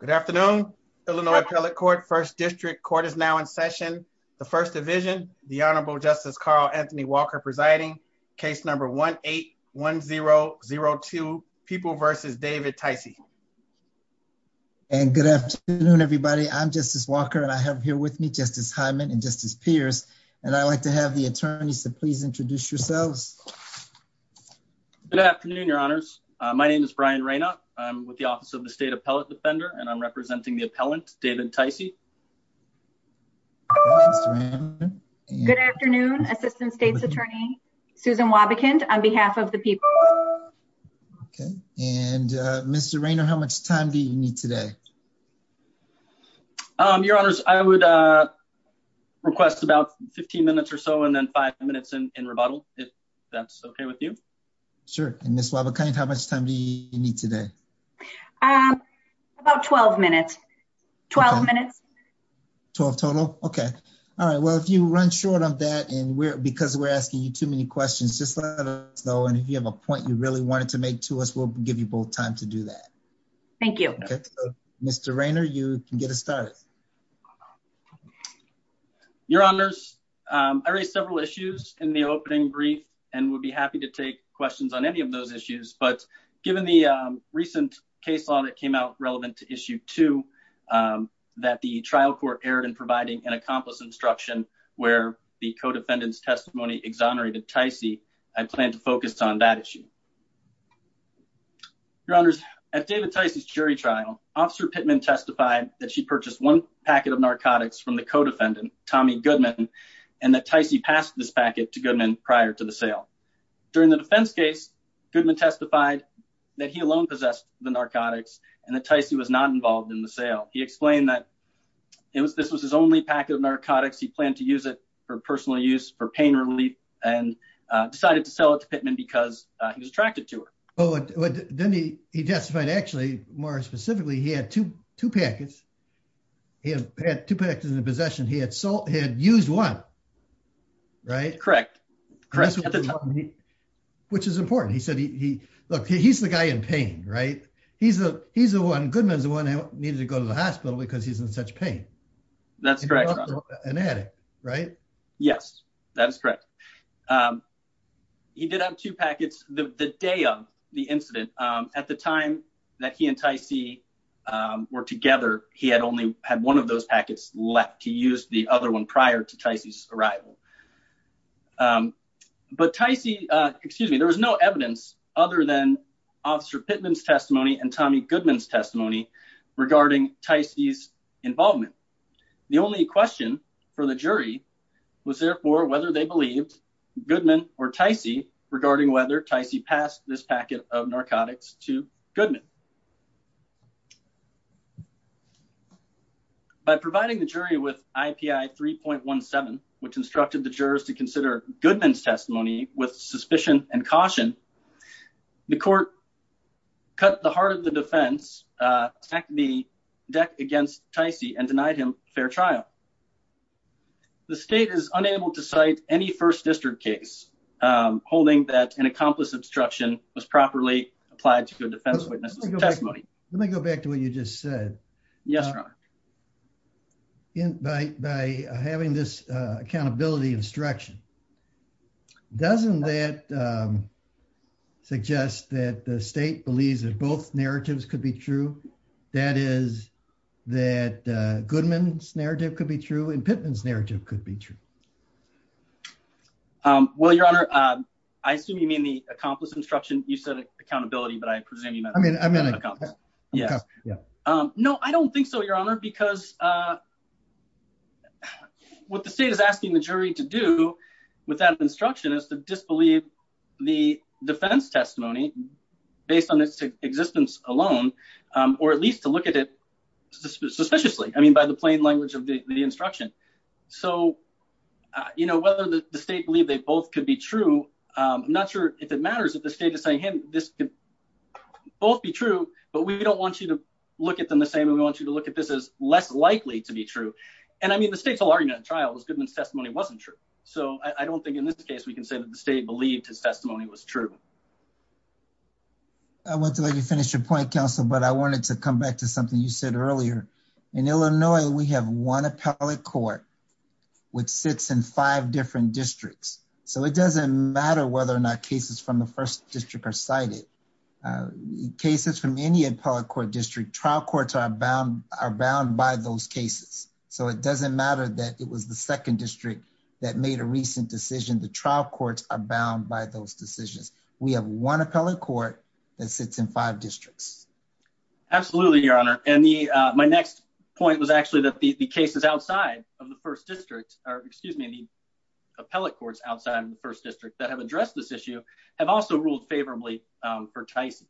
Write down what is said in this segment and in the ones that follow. Good afternoon, Illinois Appellate Court, 1st District. Court is now in session. The First Division, the Honorable Justice Carl Anthony Walker presiding. Case number 1-8-1-0-0-2, People v. David Ticey. And good afternoon, everybody. I'm Justice Walker, and I have here with me Justice Hyman and Justice Pierce. And I'd like to have the attorneys to please introduce yourselves. Good afternoon, Your Honors. My name is Brian Rayna. I'm with the Office of the State Appellate Defender, and I'm representing the appellant, David Ticey. Good afternoon, Assistant State's Attorney, Susan Wobbekind, on behalf of the people. And Mr. Rayner, how much time do you need today? Your Honors, I would request about 15 minutes or so, and then five minutes in rebuttal, if that's okay with you. Sure. And Ms. Wobbekind, how much time do you need today? About 12 minutes. 12 minutes. 12 total? Okay. All right. Well, if you run short of that, and because we're asking you too many questions, just let us know. And if you have a point you really wanted to make to us, we'll give you both time to do that. Thank you. Mr. Rayner, you can get us started. Your Honors, I raised several issues in the opening brief, and would be happy to take questions on any of those issues. But given the recent case law that came out relevant to Issue 2, that the trial court erred in providing an accomplice instruction where the co-defendant's testimony exonerated Ticey, I plan to focus on that issue. Your Honors, at David Ticey's jury trial, Officer Pittman testified that she purchased one packet of narcotics from the co-defendant, Tommy Goodman, and that Ticey passed this packet to Goodman prior to the sale. During the defense case, Goodman testified that he alone possessed the narcotics and that Ticey was not involved in the sale. He explained that this was his only packet of narcotics. He planned to use it for personal use, for pain relief, and decided to sell it to Pittman because he was attracted to her. Then he testified, actually, more specifically, he had two packets. He had two packets in his possession. He had used one, right? Correct. Which is important. Look, he's the guy in pain, right? Goodman's the one who needed to go to the hospital because he's in such pain. That's correct, Your Honor. He's not an addict, right? Yes, that is correct. He did have two packets the day of the incident. At the time that he and Ticey were together, he had only had one of those packets left. He used the other one prior to Ticey's arrival. But Ticey, excuse me, there was no evidence other than Officer Pittman's testimony and Tommy Goodman's testimony regarding Ticey's involvement. The only question for the jury was, therefore, whether they believed Goodman or Ticey regarding whether Ticey passed this packet of narcotics to Goodman. By providing the jury with IPI 3.17, which instructed the jurors to consider Goodman's testimony with suspicion and caution, the court cut the heart of the defense, attacked the deck against Ticey and denied him fair trial. The state is unable to cite any First District case holding that an accomplice obstruction was properly applied to a defense witness testimony. Let me go back to what you just said. Yes, Your Honor. By having this accountability instruction, doesn't that suggest that the state believes that both narratives could be true? That is, that Goodman's narrative could be true and Pittman's narrative could be true. Well, Your Honor, I assume you mean the accomplice obstruction. You said accountability, but I presume you meant accomplice. No, I don't think so, Your Honor, because what the state is asking the jury to do with that instruction is to disbelieve the defense testimony based on its existence alone, or at least to look at it suspiciously. I mean, by the plain language of the instruction. So, you know, whether the state believe they both could be true, I'm not sure if it matters if the state is saying, hey, this could both be true. But we don't want you to look at them the same. We want you to look at this as less likely to be true. And I mean, the state's argument trial was Goodman's testimony wasn't true. So I don't think in this case we can say that the state believed his testimony was true. I want to let you finish your point, counsel, but I wanted to come back to something you said earlier. In Illinois, we have one appellate court which sits in five different districts. So it doesn't matter whether or not cases from the first district are cited cases from any appellate court district. Trial courts are bound are bound by those cases. So it doesn't matter that it was the second district that made a recent decision. The trial courts are bound by those decisions. We have one appellate court that sits in five districts. Absolutely, Your Honor. And the my next point was actually that the cases outside of the first district or excuse me, the appellate courts outside of the first district that have addressed this issue have also ruled favorably for Tyson.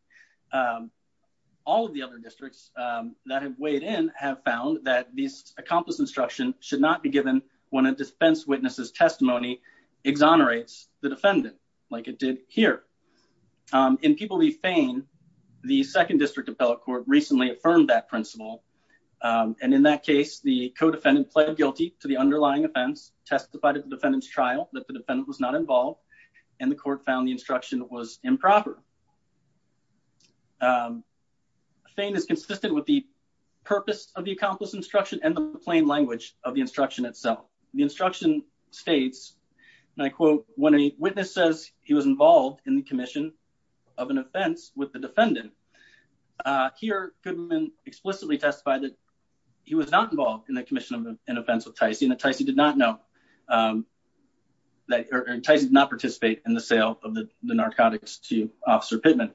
All of the other districts that have weighed in have found that these accomplished instruction should not be given when a defense witness's testimony exonerates the defendant like it did here. In people leave Fane, the second district appellate court recently affirmed that principle. And in that case, the co-defendant pled guilty to the underlying offense, testified at the defendant's trial that the defendant was not involved. And the court found the instruction was improper. Fane is consistent with the purpose of the accomplished instruction and the plain language of the instruction itself. The instruction states, and I quote, when a witness says he was involved in the commission of an offense with the defendant here, could have been explicitly testified that he was not involved in the commission of an offense with Tyson. Tyson did not know that Tyson did not participate in the sale of the narcotics to Officer Pittman.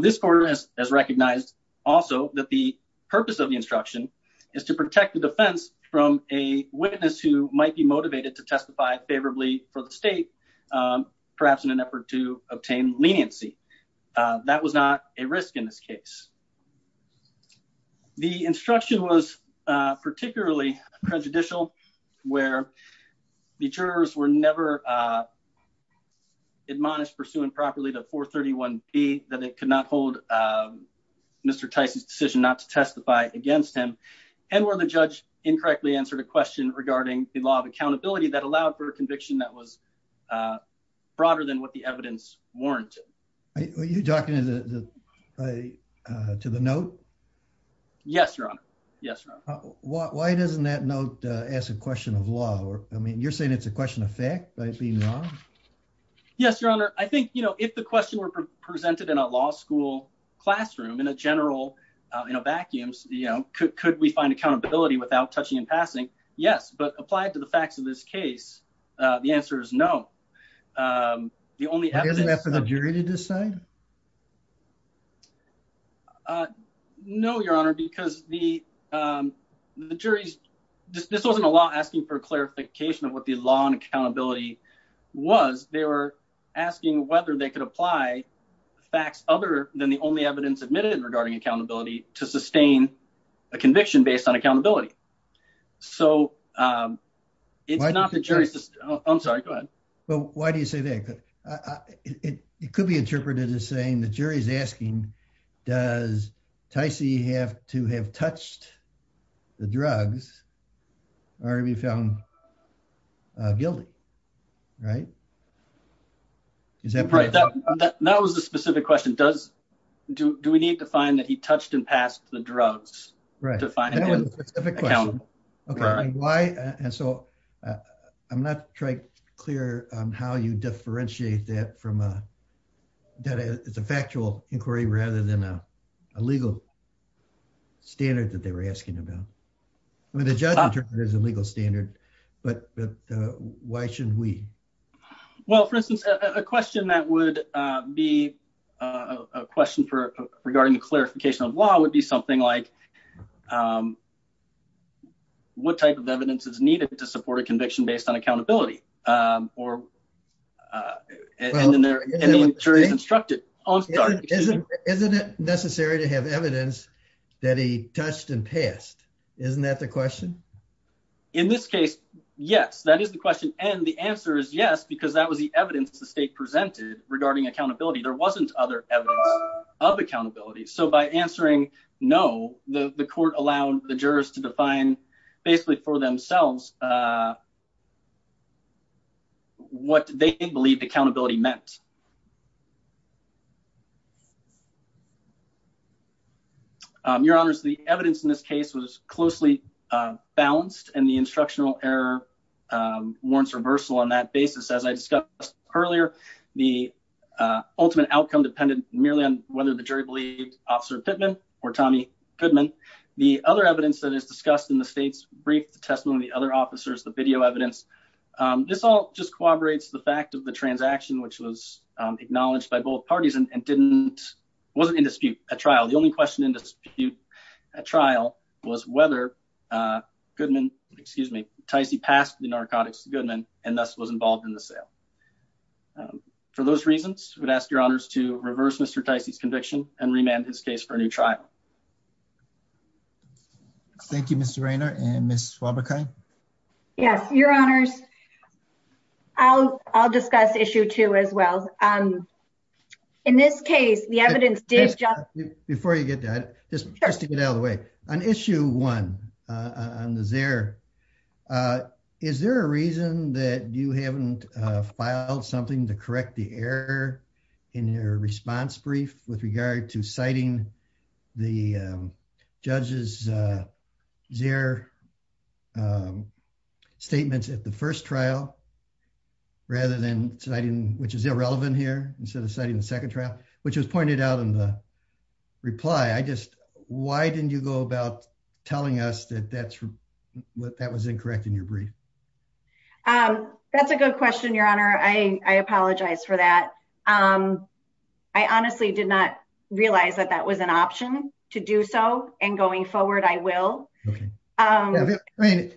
This court has recognized also that the purpose of the instruction is to protect the defense from a witness who might be motivated to testify favorably for the state, perhaps in an effort to obtain leniency. That was not a risk in this case. The instruction was particularly prejudicial where the jurors were never admonished pursuing properly to 431 P that it could not hold Mr. Tyson's decision not to testify against him and where the judge incorrectly answered a question regarding the law of accountability that allowed for a conviction that was broader than what the evidence warranted. Are you talking to the to the note? Yes, Your Honor. Yes. Why doesn't that note ask a question of law? I mean, you're saying it's a question of fact. Yes, Your Honor. I think, you know, if the question were presented in a law school classroom in a general, you know, vacuums, you know, could we find accountability without touching and passing? Yes, but applied to the facts of this case. The answer is no. The only evidence for the jury to decide. No, Your Honor, because the the jury's this wasn't a law asking for clarification of what the law and accountability was. They were asking whether they could apply facts other than the only evidence admitted regarding accountability to sustain a conviction based on accountability. So, it's not the jury's. I'm sorry, go ahead. Well, why do you say that? It could be interpreted as saying the jury's asking, does Tyson have to have touched the drugs, or have you found guilty. Right. Is that right? That was a specific question. Does, do we need to find that he touched and passed the drugs? Right, that was a specific question. Okay, why, and so I'm not trying to be clear on how you differentiate that from a, that it's a factual inquiry rather than a legal standard that they were asking about. I mean, the judge interpreted it as a legal standard, but why shouldn't we? Well, for instance, a question that would be a question for regarding the clarification of law would be something like, what type of evidence is needed to support a conviction based on accountability? Well, isn't it necessary to have evidence that he touched and passed? Isn't that the question? In this case, yes, that is the question. And the answer is yes, because that was the evidence the state presented regarding accountability. There wasn't other evidence of accountability. So by answering no, the court allowed the jurors to define basically for themselves what they believed accountability meant. Your honors, the evidence in this case was closely balanced, and the instructional error warrants reversal on that basis. As I discussed earlier, the ultimate outcome depended merely on whether the jury believed Officer Pittman or Tommy Goodman. The other evidence that is discussed in the state's brief, the testimony of the other officers, the video evidence. This all just corroborates the fact of the transaction, which was acknowledged by both parties and wasn't in dispute at trial. The only question in dispute at trial was whether Goodman, excuse me, Ticey passed the narcotics to Goodman and thus was involved in the sale. For those reasons, I would ask your honors to reverse Mr. Ticey's conviction and remand his case for a new trial. Thank you, Mr. Raynor and Ms. Schwabachai. Yes, your honors. I'll discuss issue two as well. In this case, the evidence did just... Before you get to that, just to get out of the way. On issue one on the ZEHR, is there a reason that you haven't filed something to correct the error in your response brief with regard to citing the judge's ZEHR statements at the first trial? Rather than citing, which is irrelevant here, instead of citing the second trial, which was pointed out in the reply. Why didn't you go about telling us that that was incorrect in your brief? That's a good question, your honor. I apologize for that. I honestly did not realize that that was an option to do so. And going forward, I will. I mean,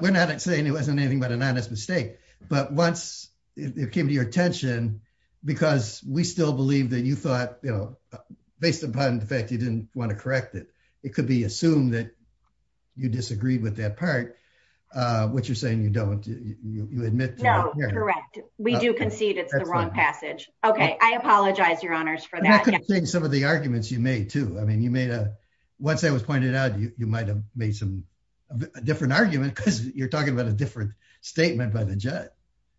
we're not saying it wasn't anything but an honest mistake. But once it came to your attention, because we still believe that you thought, you know, based upon the fact you didn't want to correct it, it could be assumed that you disagreed with that part, which you're saying you don't, you admit... No, correct. We do concede it's the wrong passage. Okay, I apologize, your honors, for that. I could have seen some of the arguments you made, too. I mean, you made a... Once that was pointed out, you might have made some different argument because you're talking about a different statement by the judge.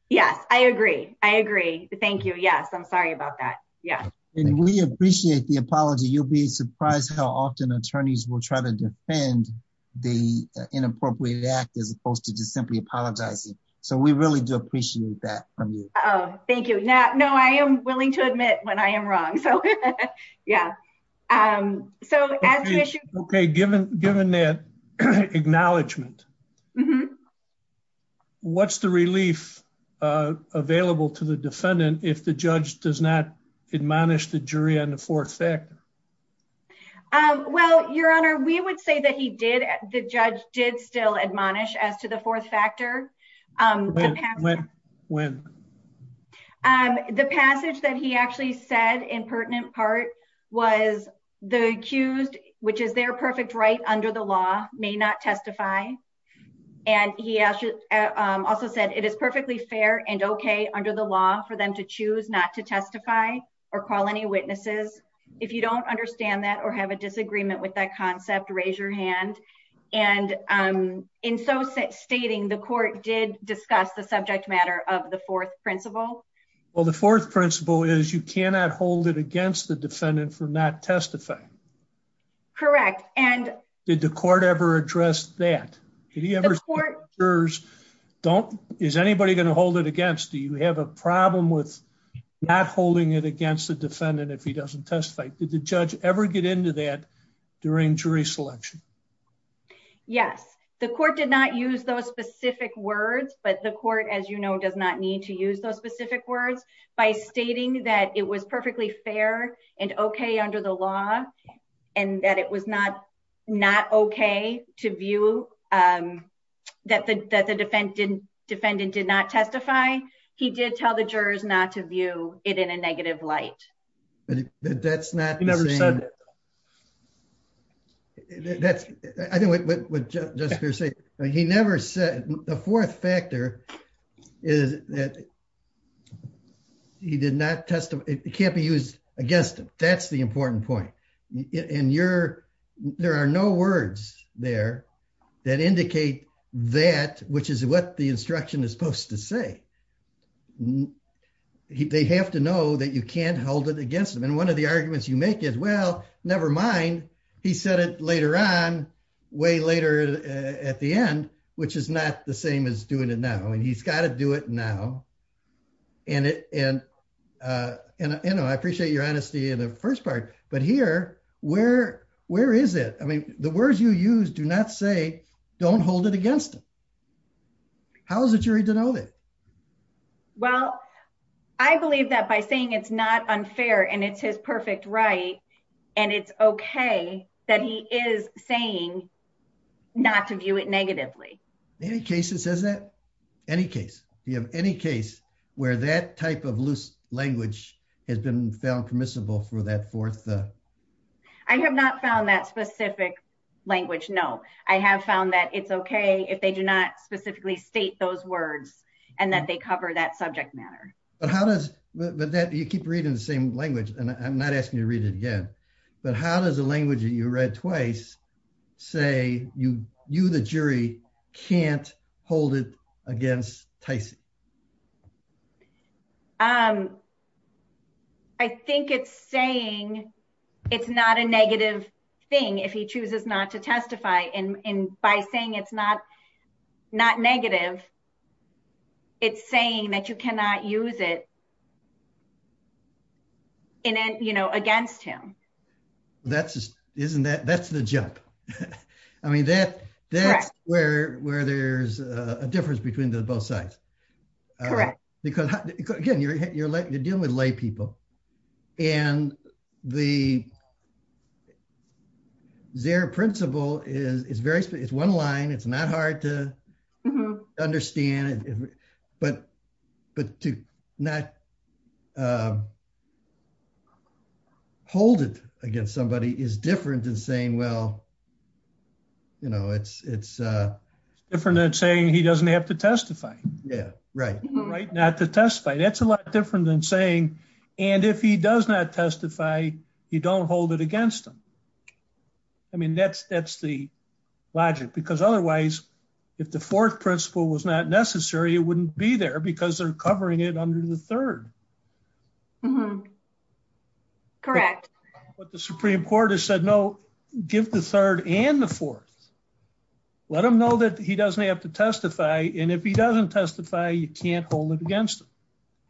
Yes, I agree. I agree. Thank you. Yes, I'm sorry about that. Yeah. And we appreciate the apology. You'll be surprised how often attorneys will try to defend the inappropriate act as opposed to just simply apologizing. So we really do appreciate that from you. Oh, thank you. No, I am willing to admit when I am wrong. So, yeah. Okay, given that acknowledgement, what's the relief available to the defendant if the judge does not admonish the jury on the fourth factor? Well, your honor, we would say that the judge did still admonish as to the fourth factor. When? The passage that he actually said in pertinent part was the accused, which is their perfect right under the law, may not testify. And he also said it is perfectly fair and okay under the law for them to choose not to testify or call any witnesses. If you don't understand that or have a disagreement with that concept, raise your hand. And in so stating the court did discuss the subject matter of the fourth principle. Well, the fourth principle is you cannot hold it against the defendant for not testify. Correct. And did the court ever address that? Don't is anybody going to hold it against? Do you have a problem with not holding it against the defendant if he doesn't testify? Did the judge ever get into that during jury selection? Yes, the court did not use those specific words, but the court, as you know, does not need to use those specific words by stating that it was perfectly fair and okay under the law and that it was not not okay to view that the defendant did not testify. He did tell the jurors not to view it in a negative light. But that's not the same. He never said that. I think what Jessica said, he never said the fourth factor is that he did not testify, it can't be used against him. That's the important point. And you're, there are no words there that indicate that, which is what the instruction is supposed to say. They have to know that you can't hold it against them. And one of the arguments you make is, well, never mind. He said it later on, way later at the end, which is not the same as doing it now and he's got to do it now. And, and, you know, I appreciate your honesty in the first part, but here, where, where is it? I mean, the words you use do not say, don't hold it against him. How is the jury to know that? Well, I believe that by saying it's not unfair and it's his perfect right. And it's okay that he is saying not to view it negatively. Any cases, is that any case, you have any case where that type of loose language has been found permissible for that fourth. I have not found that specific language. No, I have found that it's okay if they do not specifically state those words, and that they cover that subject matter. But how does that you keep reading the same language, and I'm not asking you to read it again. But how does the language that you read twice, say you, you the jury can't hold it against Tyson. Um, I think it's saying, it's not a negative thing if he chooses not to testify and by saying it's not not negative. It's saying that you cannot use it. And then, you know, against him. That's, isn't that that's the jump. I mean that that's where where there's a difference between the both sides. Because, again, you're, you're like you're dealing with lay people. And the zero principle is very it's one line it's not hard to understand it. But, but to not hold it against somebody is different than saying well you know it's it's different than saying he doesn't have to testify. Yeah, right. That's a lot different than saying, and if he does not testify. You don't hold it against them. I mean that's that's the logic because otherwise, if the fourth principle was not necessary it wouldn't be there because they're covering it under the third. Correct. But the Supreme Court has said no. Give the third and the fourth. Let them know that he doesn't have to testify in if he doesn't testify you can't hold it against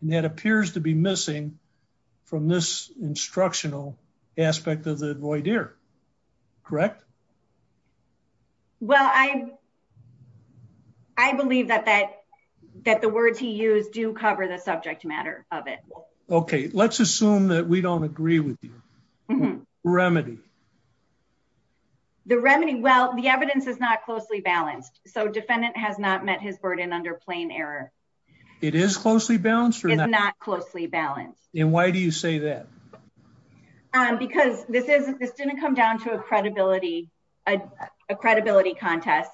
that appears to be missing from this instructional aspect of the void here. Correct. Well, I, I believe that that that the words he used to cover the subject matter of it. Okay, let's assume that we don't agree with you. Remedy. The remedy well the evidence is not closely balanced, so defendant has not met his burden under plain error. It is closely balanced or not closely balanced. And why do you say that, because this is this didn't come down to a credibility, a credibility contest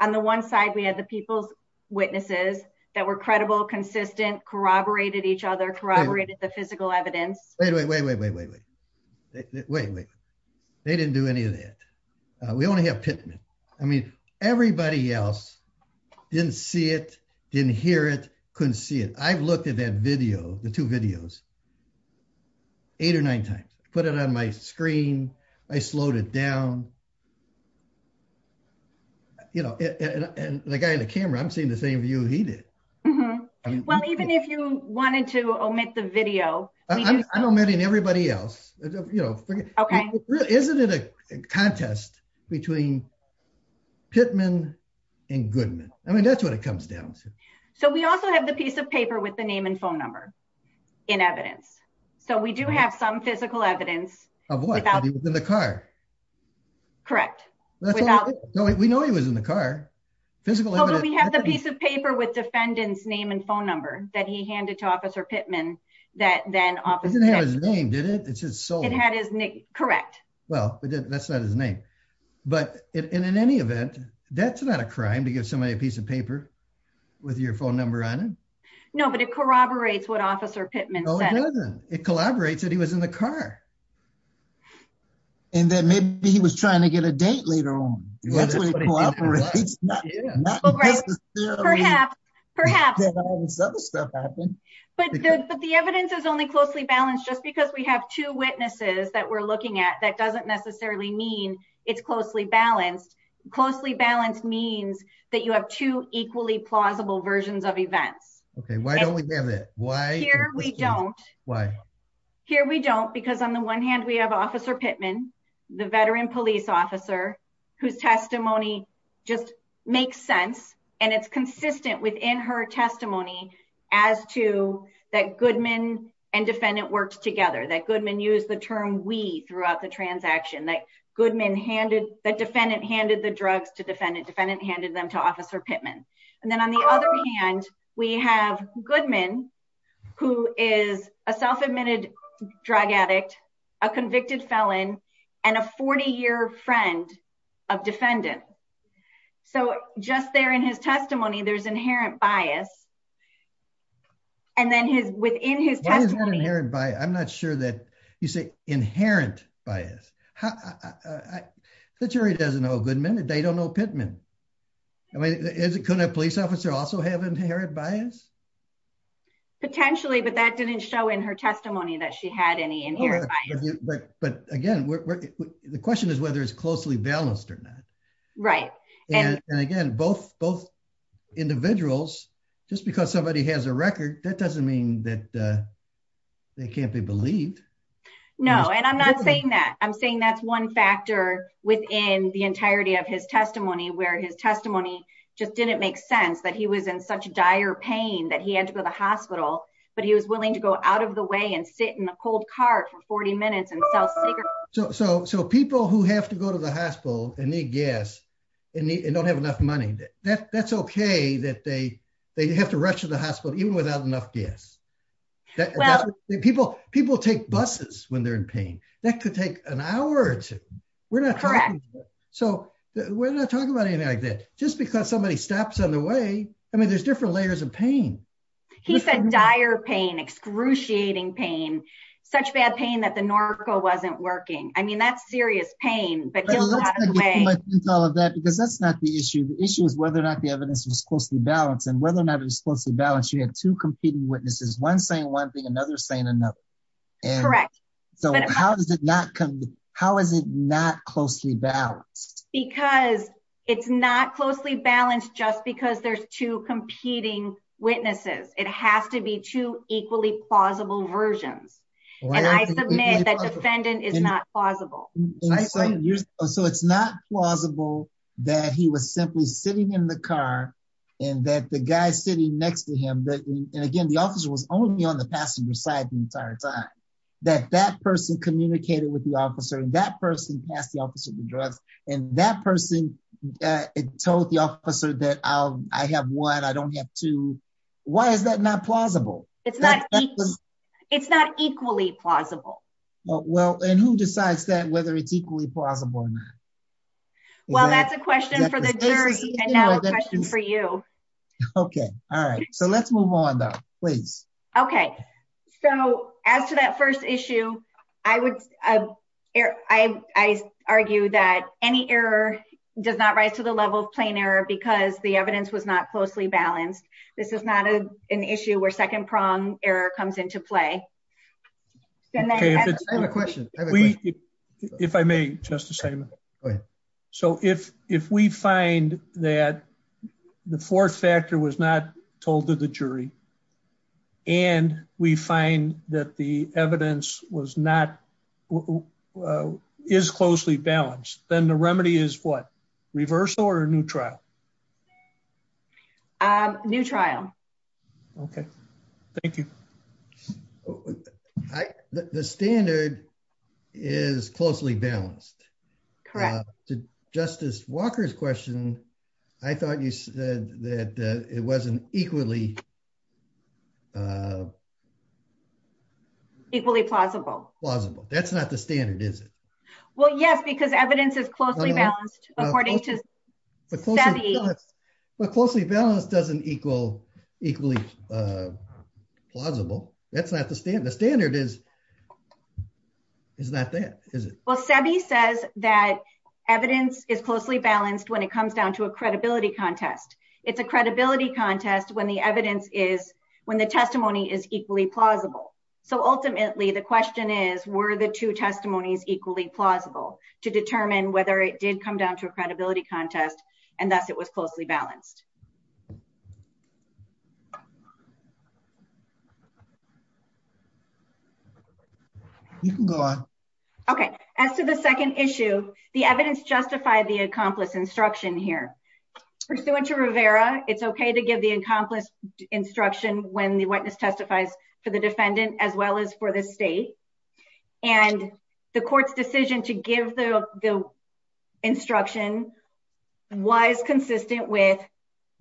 on the one side we had the people's witnesses that were credible consistent corroborated each other corroborated Wait, wait, wait, wait, wait, wait, wait, they didn't do any of that. We only have Pittman. I mean, everybody else didn't see it didn't hear it couldn't see it I've looked at that video, the two videos, eight or nine times, put it on my screen. I slowed it down. You know, and the guy in the camera I'm seeing the same view he did. Well, even if you wanted to omit the video. Everybody else. Okay, isn't it a contest between Pittman and Goodman, I mean that's what it comes down to. So we also have the piece of paper with the name and phone number in evidence. So we do have some physical evidence of what happened in the car. Correct. We know he was in the car. Physically, we have the piece of paper with defendants name and phone number that he handed to Officer Pittman that then office name did it it's just so it had his name. Correct. Well, that's not his name. But in any event, that's not a crime to give somebody a piece of paper with your phone number on. No, but it corroborates what officer Pittman. It collaborates that he was in the car. And then maybe he was trying to get a date later on. Perhaps, perhaps. But the evidence is only closely balanced just because we have two witnesses that we're looking at that doesn't necessarily mean it's closely balanced closely balanced means that you have two equally plausible versions of events. Okay, why don't we have it. Why here we don't. Why. Here we don't because on the one hand we have Officer Pittman, the veteran police officer, whose testimony, just makes sense, and it's consistent within her testimony as to that Goodman and defendant works together that Goodman use the term we throughout the drug addict, a convicted felon, and a 40 year friend of defendant. So, just there in his testimony there's inherent bias. And then his within his hair and by I'm not sure that you say, inherent bias. The jury doesn't know Goodman and they don't know Pittman. Couldn't a police officer also have inherent bias. Potentially but that didn't show in her testimony that she had any in here. But, but, again, the question is whether it's closely balanced or not. Right. And again, both both individuals, just because somebody has a record that doesn't mean that they can't be believed. No, and I'm not saying that I'm saying that's one factor within the entirety of his testimony where his testimony just didn't make sense that he was in such dire pain that he had to go to the hospital, but he was willing to go out of the way and sit in the cold car for 40 minutes So, so people who have to go to the hospital, and they guess, and they don't have enough money that that's okay that they, they have to rush to the hospital even without enough guests that people, people take buses when they're in pain, that could take an hour or two. So, we're not talking about anything like that, just because somebody stops on the way. I mean there's different layers of pain. He said dire pain excruciating pain, such bad pain that the Norco wasn't working. I mean that's serious pain, but all of that because that's not the issue the issue is whether or not the evidence was closely balanced and whether or not it was closely balanced you had to competing witnesses one saying one thing another saying another. Correct. So how does it not come. How is it not closely balanced, because it's not closely balanced just because there's two competing witnesses, it has to be two equally plausible versions. And I submit that defendant is not plausible. So it's not plausible that he was simply sitting in the car, and that the guy sitting next to him but again the officer was only on the passenger side the entire time that that person communicated with the officer and that person asked the officer to dress, and that person told the officer that I have one I don't have to. Why is that not plausible. It's not. It's not equally plausible. Well, and who decides that whether it's equally plausible or not. Well that's a question for the jury for you. Okay. Alright, so let's move on though, please. Okay. So, as to that first issue, I would argue that any error does not rise to the level of plain error because the evidence was not closely balanced. This is not an issue where second prong error comes into play. I have a question. If I may, just the same. So if, if we find that the fourth factor was not told to the jury. And we find that the evidence was not is closely balanced, then the remedy is what reversal or neutral. Neutral. Okay. Thank you. The standard is closely balanced to Justice Walker's question. I thought you said that it wasn't equally equally plausible, plausible, that's not the standard is it. Well, yes, because evidence is closely balanced, according to the closely balanced doesn't equal equally plausible, that's not the standard the standard is. Is that that is it well said he says that evidence is closely balanced when it comes down to a credibility contest. It's a credibility contest when the evidence is when the testimony is equally plausible. So ultimately the question is, were the two testimonies equally plausible to determine whether it did come down to a credibility contest, and that's it was closely balanced. Okay. Okay. As to the second issue, the evidence justify the accomplice instruction here. So what's your Rivera, it's okay to give the accomplice instruction when the witness testifies for the defendant as well as for the state. And the court's decision to give the, the instruction. Why is consistent with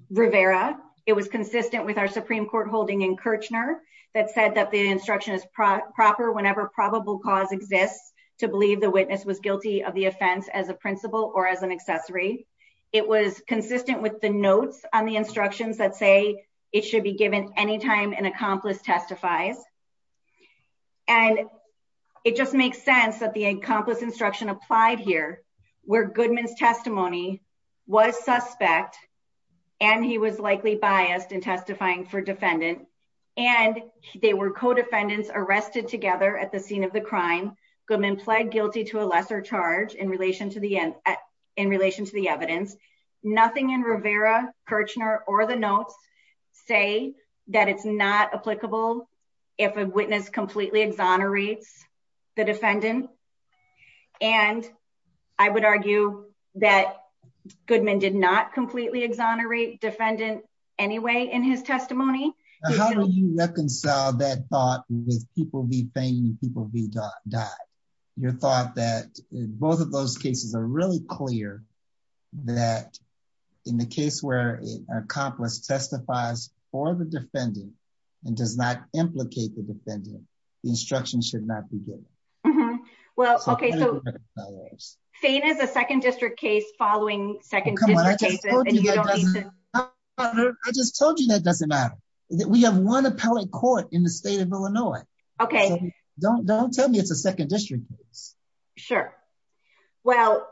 Rivera, it was consistent with our Supreme Court holding in Kirchner that said that the instruction is proper whenever probable cause exists to believe the witness was guilty of the offense as a principal or as an accessory. It was consistent with the notes on the instructions that say it should be given anytime an accomplice testifies. And it just makes sense that the accomplice instruction applied here, where Goodman's testimony was suspect. And he was likely biased and testifying for defendant, and they were co defendants arrested together at the scene of the crime. Goodman pled guilty to a lesser charge in relation to the end. Nothing in Rivera, Kirchner, or the notes, say that it's not applicable. If a witness completely exonerates the defendant. And I would argue that Goodman did not completely exonerate defendant. Anyway, in his testimony. How do you reconcile that thought with people be paying people be died. Your thought that both of those cases are really clear that in the case where an accomplice testifies for the defendant, and does not implicate the defendant instruction should not be good. Well, okay so faint as a second district case following second. I just told you that doesn't matter that we have one appellate court in the state of Illinois. Okay, don't don't tell me it's a second district. Sure. Well,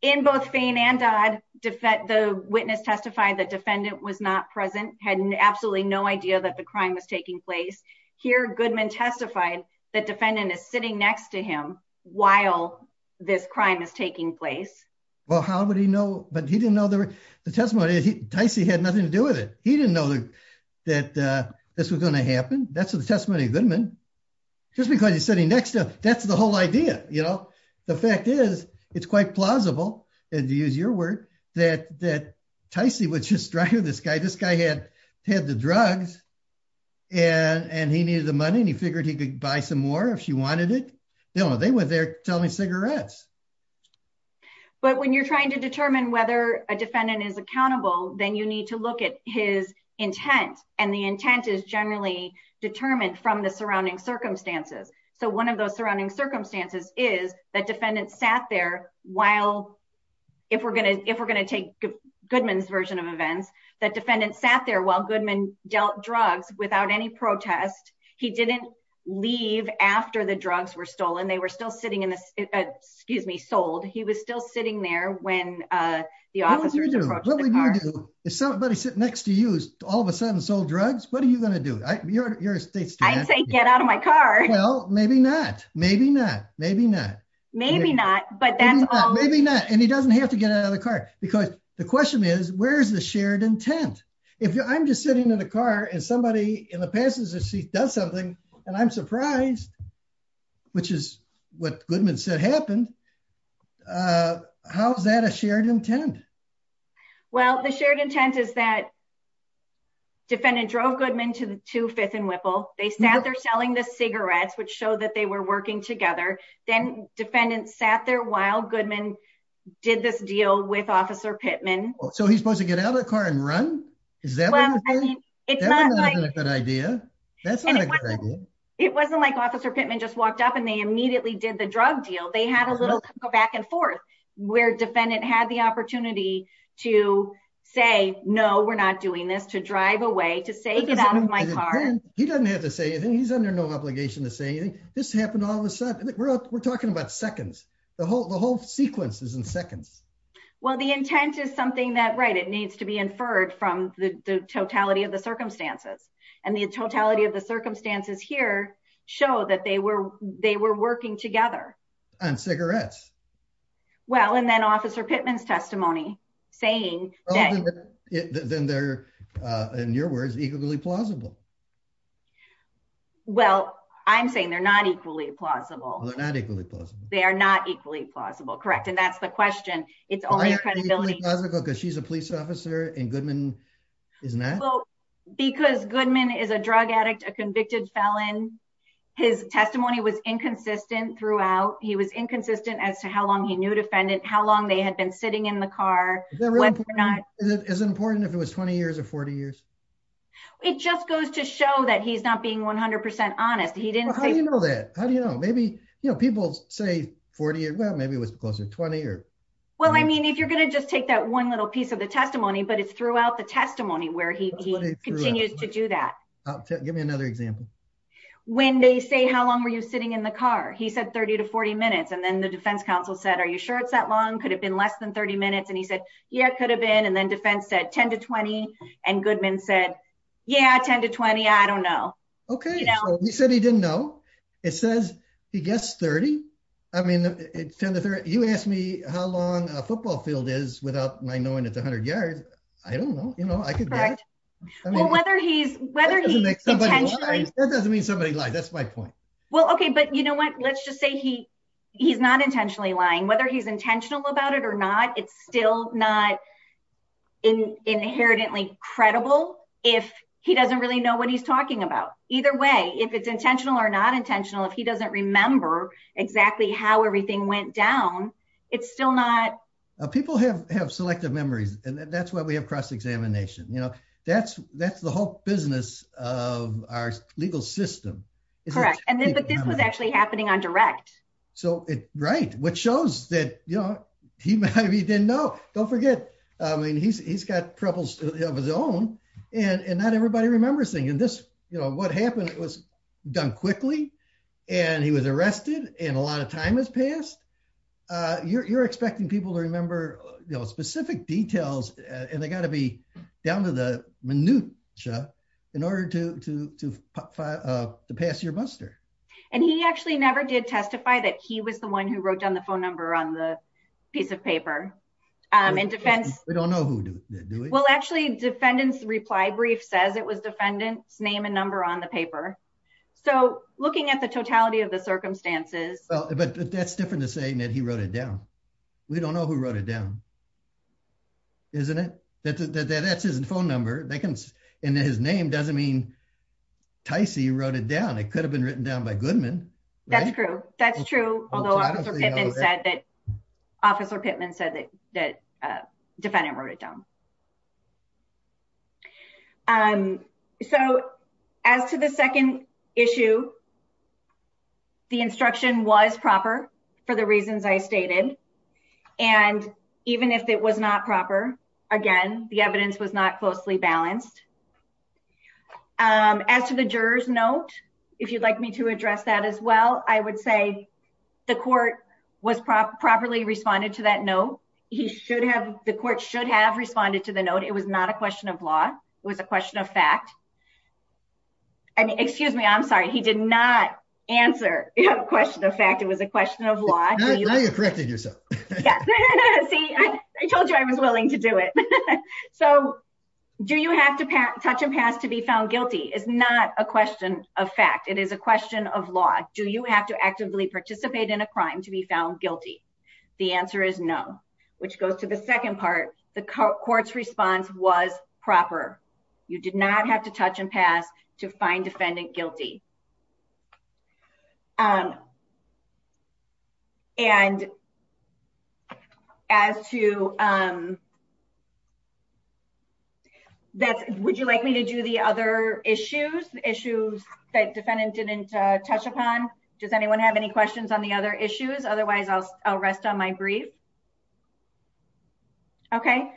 in both faint and died, defect the witness testified that defendant was not present had absolutely no idea that the crime was taking place here Goodman testified that defendant is sitting next to him, while this crime is taking place. Well, how would he know, but he didn't know the testimony he had nothing to do with it, he didn't know that this was going to happen, that's the testimony Goodman, just because he's sitting next to, that's the whole idea, you know, the fact is, it's quite plausible to use your word that that Tyson was just driving this guy this guy had had the drugs and and he needed the money and he figured he could buy some more if she wanted it. No, they went there, tell me cigarettes. But when you're trying to determine whether a defendant is accountable, then you need to look at his intent, and the intent is generally determined from the surrounding circumstances. So one of those surrounding circumstances is that defendant sat there, while, if we're going to, if we're going to take Goodman's version of events that defendant sat there while Goodman dealt drugs without any protest. He didn't leave after the drugs were stolen they were still sitting in this, excuse me sold he was still sitting there when the officer. If somebody sit next to us, all of a sudden sold drugs, what are you going to do. I say get out of my car. Well, maybe not, maybe not, maybe not, maybe not, but that's maybe not and he doesn't have to get out of the car, because the question is where's the shared intent. If I'm just sitting in the car and somebody in the passenger seat does something, and I'm surprised, which is what Goodman said happened. How's that a shared intent. Well, the shared intent is that defendant drove Goodman to the two fifth and Whipple, they sat there selling the cigarettes which show that they were working together, then defendants sat there while Goodman did this deal with officer Pittman. So he's supposed to get out of the car and run. Is that a good idea. That's not a good idea. It wasn't like officer Pittman just walked up and they immediately did the drug deal they had a little go back and forth, where defendant had the opportunity to say no we're not doing this to drive away to say get out of my car. He doesn't have to say anything he's under no obligation to say this happened all of a sudden, we're talking about seconds, the whole the whole sequence is in seconds. Well the intent is something that right it needs to be inferred from the totality of the circumstances, and the totality of the circumstances here, show that they were, they were working together on cigarettes. Well and then officer Pittman testimony, saying, then they're in your words equally plausible. Well, I'm saying they're not equally plausible. They are not equally plausible correct and that's the question. It's only because she's a police officer and Goodman isn't that because Goodman is a drug addict a convicted felon. His testimony was inconsistent throughout he was inconsistent as to how long he knew defendant how long they had been sitting in the car. Is it important if it was 20 years or 40 years. It just goes to show that he's not being 100% honest he didn't know that, how do you know maybe you know people say 40 years well maybe it was closer to 20 years. Well I mean if you're going to just take that one little piece of the testimony but it's throughout the testimony where he continues to do that. Give me another example. When they say how long were you sitting in the car he said 30 to 40 minutes and then the defense counsel said Are you sure it's that long could have been less than 30 minutes and he said, yeah, could have been and then defense said 10 to 20, and Goodman said, yeah 10 to 20 I don't know. Okay. He said he didn't know. It says he gets 30. I mean, it's 10 to 30, you asked me how long a football field is without my knowing it's 100 yards. I don't know, you know, I could. Whether he's whether he doesn't mean somebody like that's my point. Well okay but you know what, let's just say he. He's not intentionally lying whether he's intentional about it or not, it's still not in inherently credible. If he doesn't really know what he's talking about. Either way, if it's intentional or not intentional if he doesn't remember exactly how everything went down. It's still not people have have selective memories, and that's why we have cross examination you know that's that's the whole business of our legal system. And then but this was actually happening on direct. So, right, which shows that, you know, he might be didn't know, don't forget. I mean he's got troubles of his own, and not everybody remembers thing and this, you know what happened, it was done quickly. And he was arrested, and a lot of time has passed. You're expecting people to remember, you know specific details, and they got to be down to the minute. In order to to pass your buster, and he actually never did testify that he was the one who wrote down the phone number on the piece of paper and defense. Well actually defendants reply brief says it was defendants name and number on the paper. So, looking at the totality of the circumstances, but that's different to say that he wrote it down. We don't know who wrote it down. Isn't it, that's his phone number, they can, and his name doesn't mean Tysie wrote it down it could have been written down by Goodman. That's true. That's true. That officer Pittman said that that defendant wrote it down. And so, as to the second issue. The instruction was proper for the reasons I stated. And even if it was not proper. Again, the evidence was not closely balanced. As to the jurors note, if you'd like me to address that as well, I would say, the court was properly responded to that no, he should have the court should have responded to the note it was not a question of law was a question of fact. And excuse me I'm sorry he did not answer the question of fact it was a question of law. Corrected yourself. See, I told you I was willing to do it. So, do you have to touch and pass to be found guilty is not a question of fact it is a question of law, do you have to actively participate in a crime to be found guilty. The answer is no, which goes to the second part, the courts response was proper. You did not have to touch and pass to find defendant guilty. And as to that, would you like me to do the other issues, issues that defendant didn't touch upon. Does anyone have any questions on the other issues otherwise I'll, I'll rest on my brief. Okay.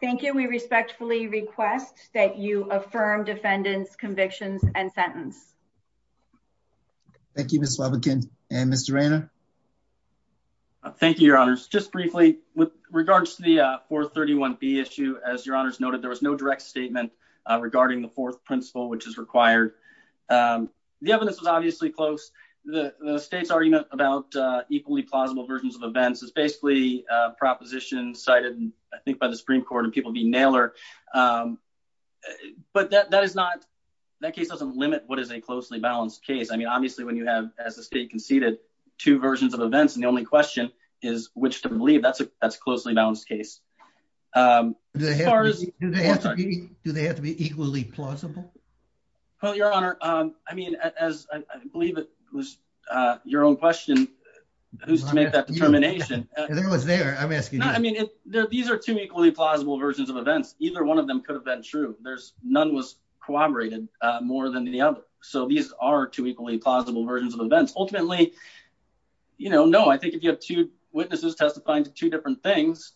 Thank you. We respectfully request that you affirm defendants convictions and sentence. Thank you, Miss Lubbock and Mr Anna. Thank you, Your Honors, just briefly, with regards to the 431 be issue as your honors noted there was no direct statement regarding the fourth principle which is required. The evidence was obviously close the state's argument about equally plausible versions of events is basically proposition cited, I think by the Supreme Court and people be nailer. But that that is not that case doesn't limit what is a closely balanced case I mean obviously when you have as a state conceded two versions of events and the only question is which to believe that's a that's closely balanced case. As far as do they have to be equally plausible. Well, Your Honor, I mean, as I believe it was your own question. Who's to make that determination, there was there I'm asking, I mean, these are two equally plausible versions of events, either one of them could have been true, there's none was corroborated more than the other. So these are two equally plausible versions of events ultimately, you know, no I think if you have two witnesses testifying to two different things.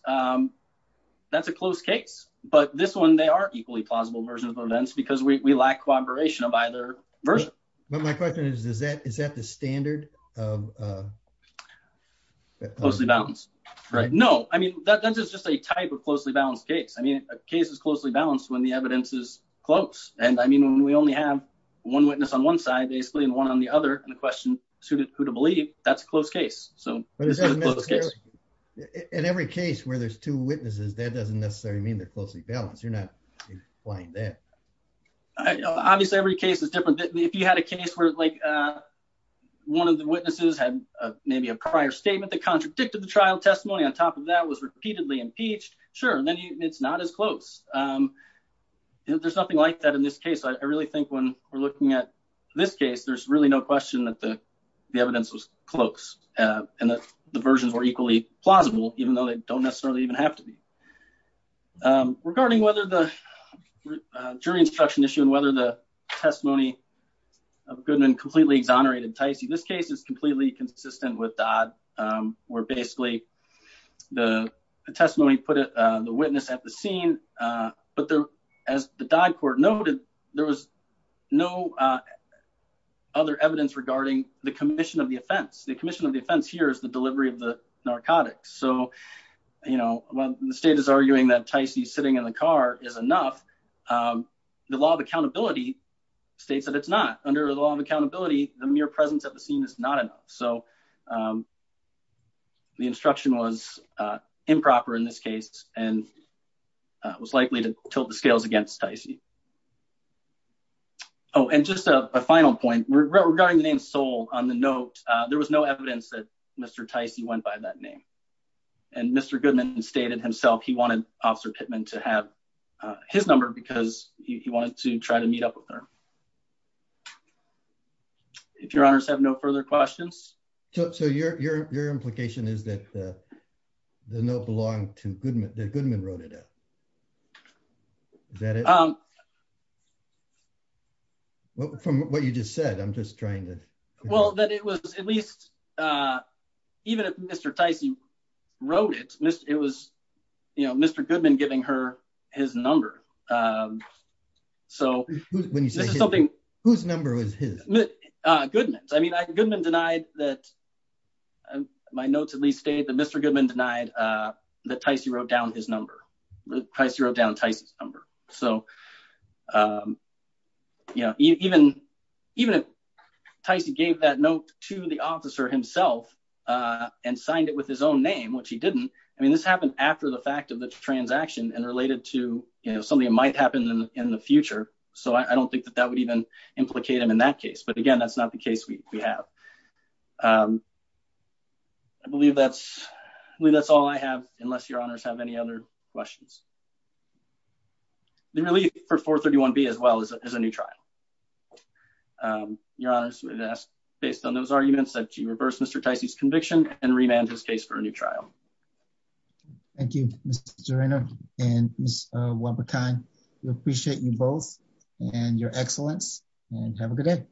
That's a close case, but this one they are equally plausible versions of events because we lack cooperation of either version. But my question is, is that is that the standard of closely balanced. Right. No, I mean, that is just a type of closely balanced case I mean a case is closely balanced when the evidence is close, and I mean when we only have one witness on one side basically and one on the other, and the question suited who to believe that's close case. So, in every case where there's two witnesses that doesn't necessarily mean that closely balanced you're not applying that. Obviously every case is different. If you had a case where like one of the witnesses had maybe a prior statement that contradicted the trial testimony on top of that was repeatedly impeached. Sure, then it's not as close. There's nothing like that in this case I really think when we're looking at this case there's really no question that the evidence was close, and the versions were equally plausible, even though they don't necessarily even have to be. Regarding whether the jury instruction issue and whether the testimony of Goodman completely exonerated Ticey this case is completely consistent with that were basically the testimony put it, the witness at the scene. But there, as the dog court noted, there was no other evidence regarding the commission of the offense the commission of defense here is the delivery of the narcotics so you know, the state is arguing that Ticey sitting in the car is enough. The law of accountability states that it's not under the law of accountability, the mere presence of the scene is not enough. So, the instruction was improper in this case, and was likely to tilt the scales against Ticey. Oh, and just a final point regarding the name sold on the note, there was no evidence that Mr Ticey went by that name. And Mr Goodman stated himself he wanted officer Pittman to have his number because he wanted to try to meet up with her. If your honors have no further questions. So your, your, your implication is that the note belong to Goodman Goodman wrote it. That is, um, from what you just said I'm just trying to well that it was at least. Even if Mr Ticey wrote it, it was, you know, Mr Goodman giving her his number. So, when you say something, whose number was his goodness I mean I Goodman denied that my notes at least state that Mr Goodman denied that Ticey wrote down his number price zero down Ticey's number. So, you know, even, even if Ticey gave that note to the officer himself, and signed it with his own name which he didn't. I mean this happened after the fact of the transaction and related to, you know, something like a in the future, so I don't think that that would even implicate him in that case but again that's not the case we have. I believe that's, that's all I have, unless your honors have any other questions. The relief for 431 be as well as a new trial. Your honors with us, based on those arguments that you reverse Mr Ticey's conviction and remand his case for a new trial. Thank you, Mr. And what we can appreciate you both, and your excellence, and have a good day.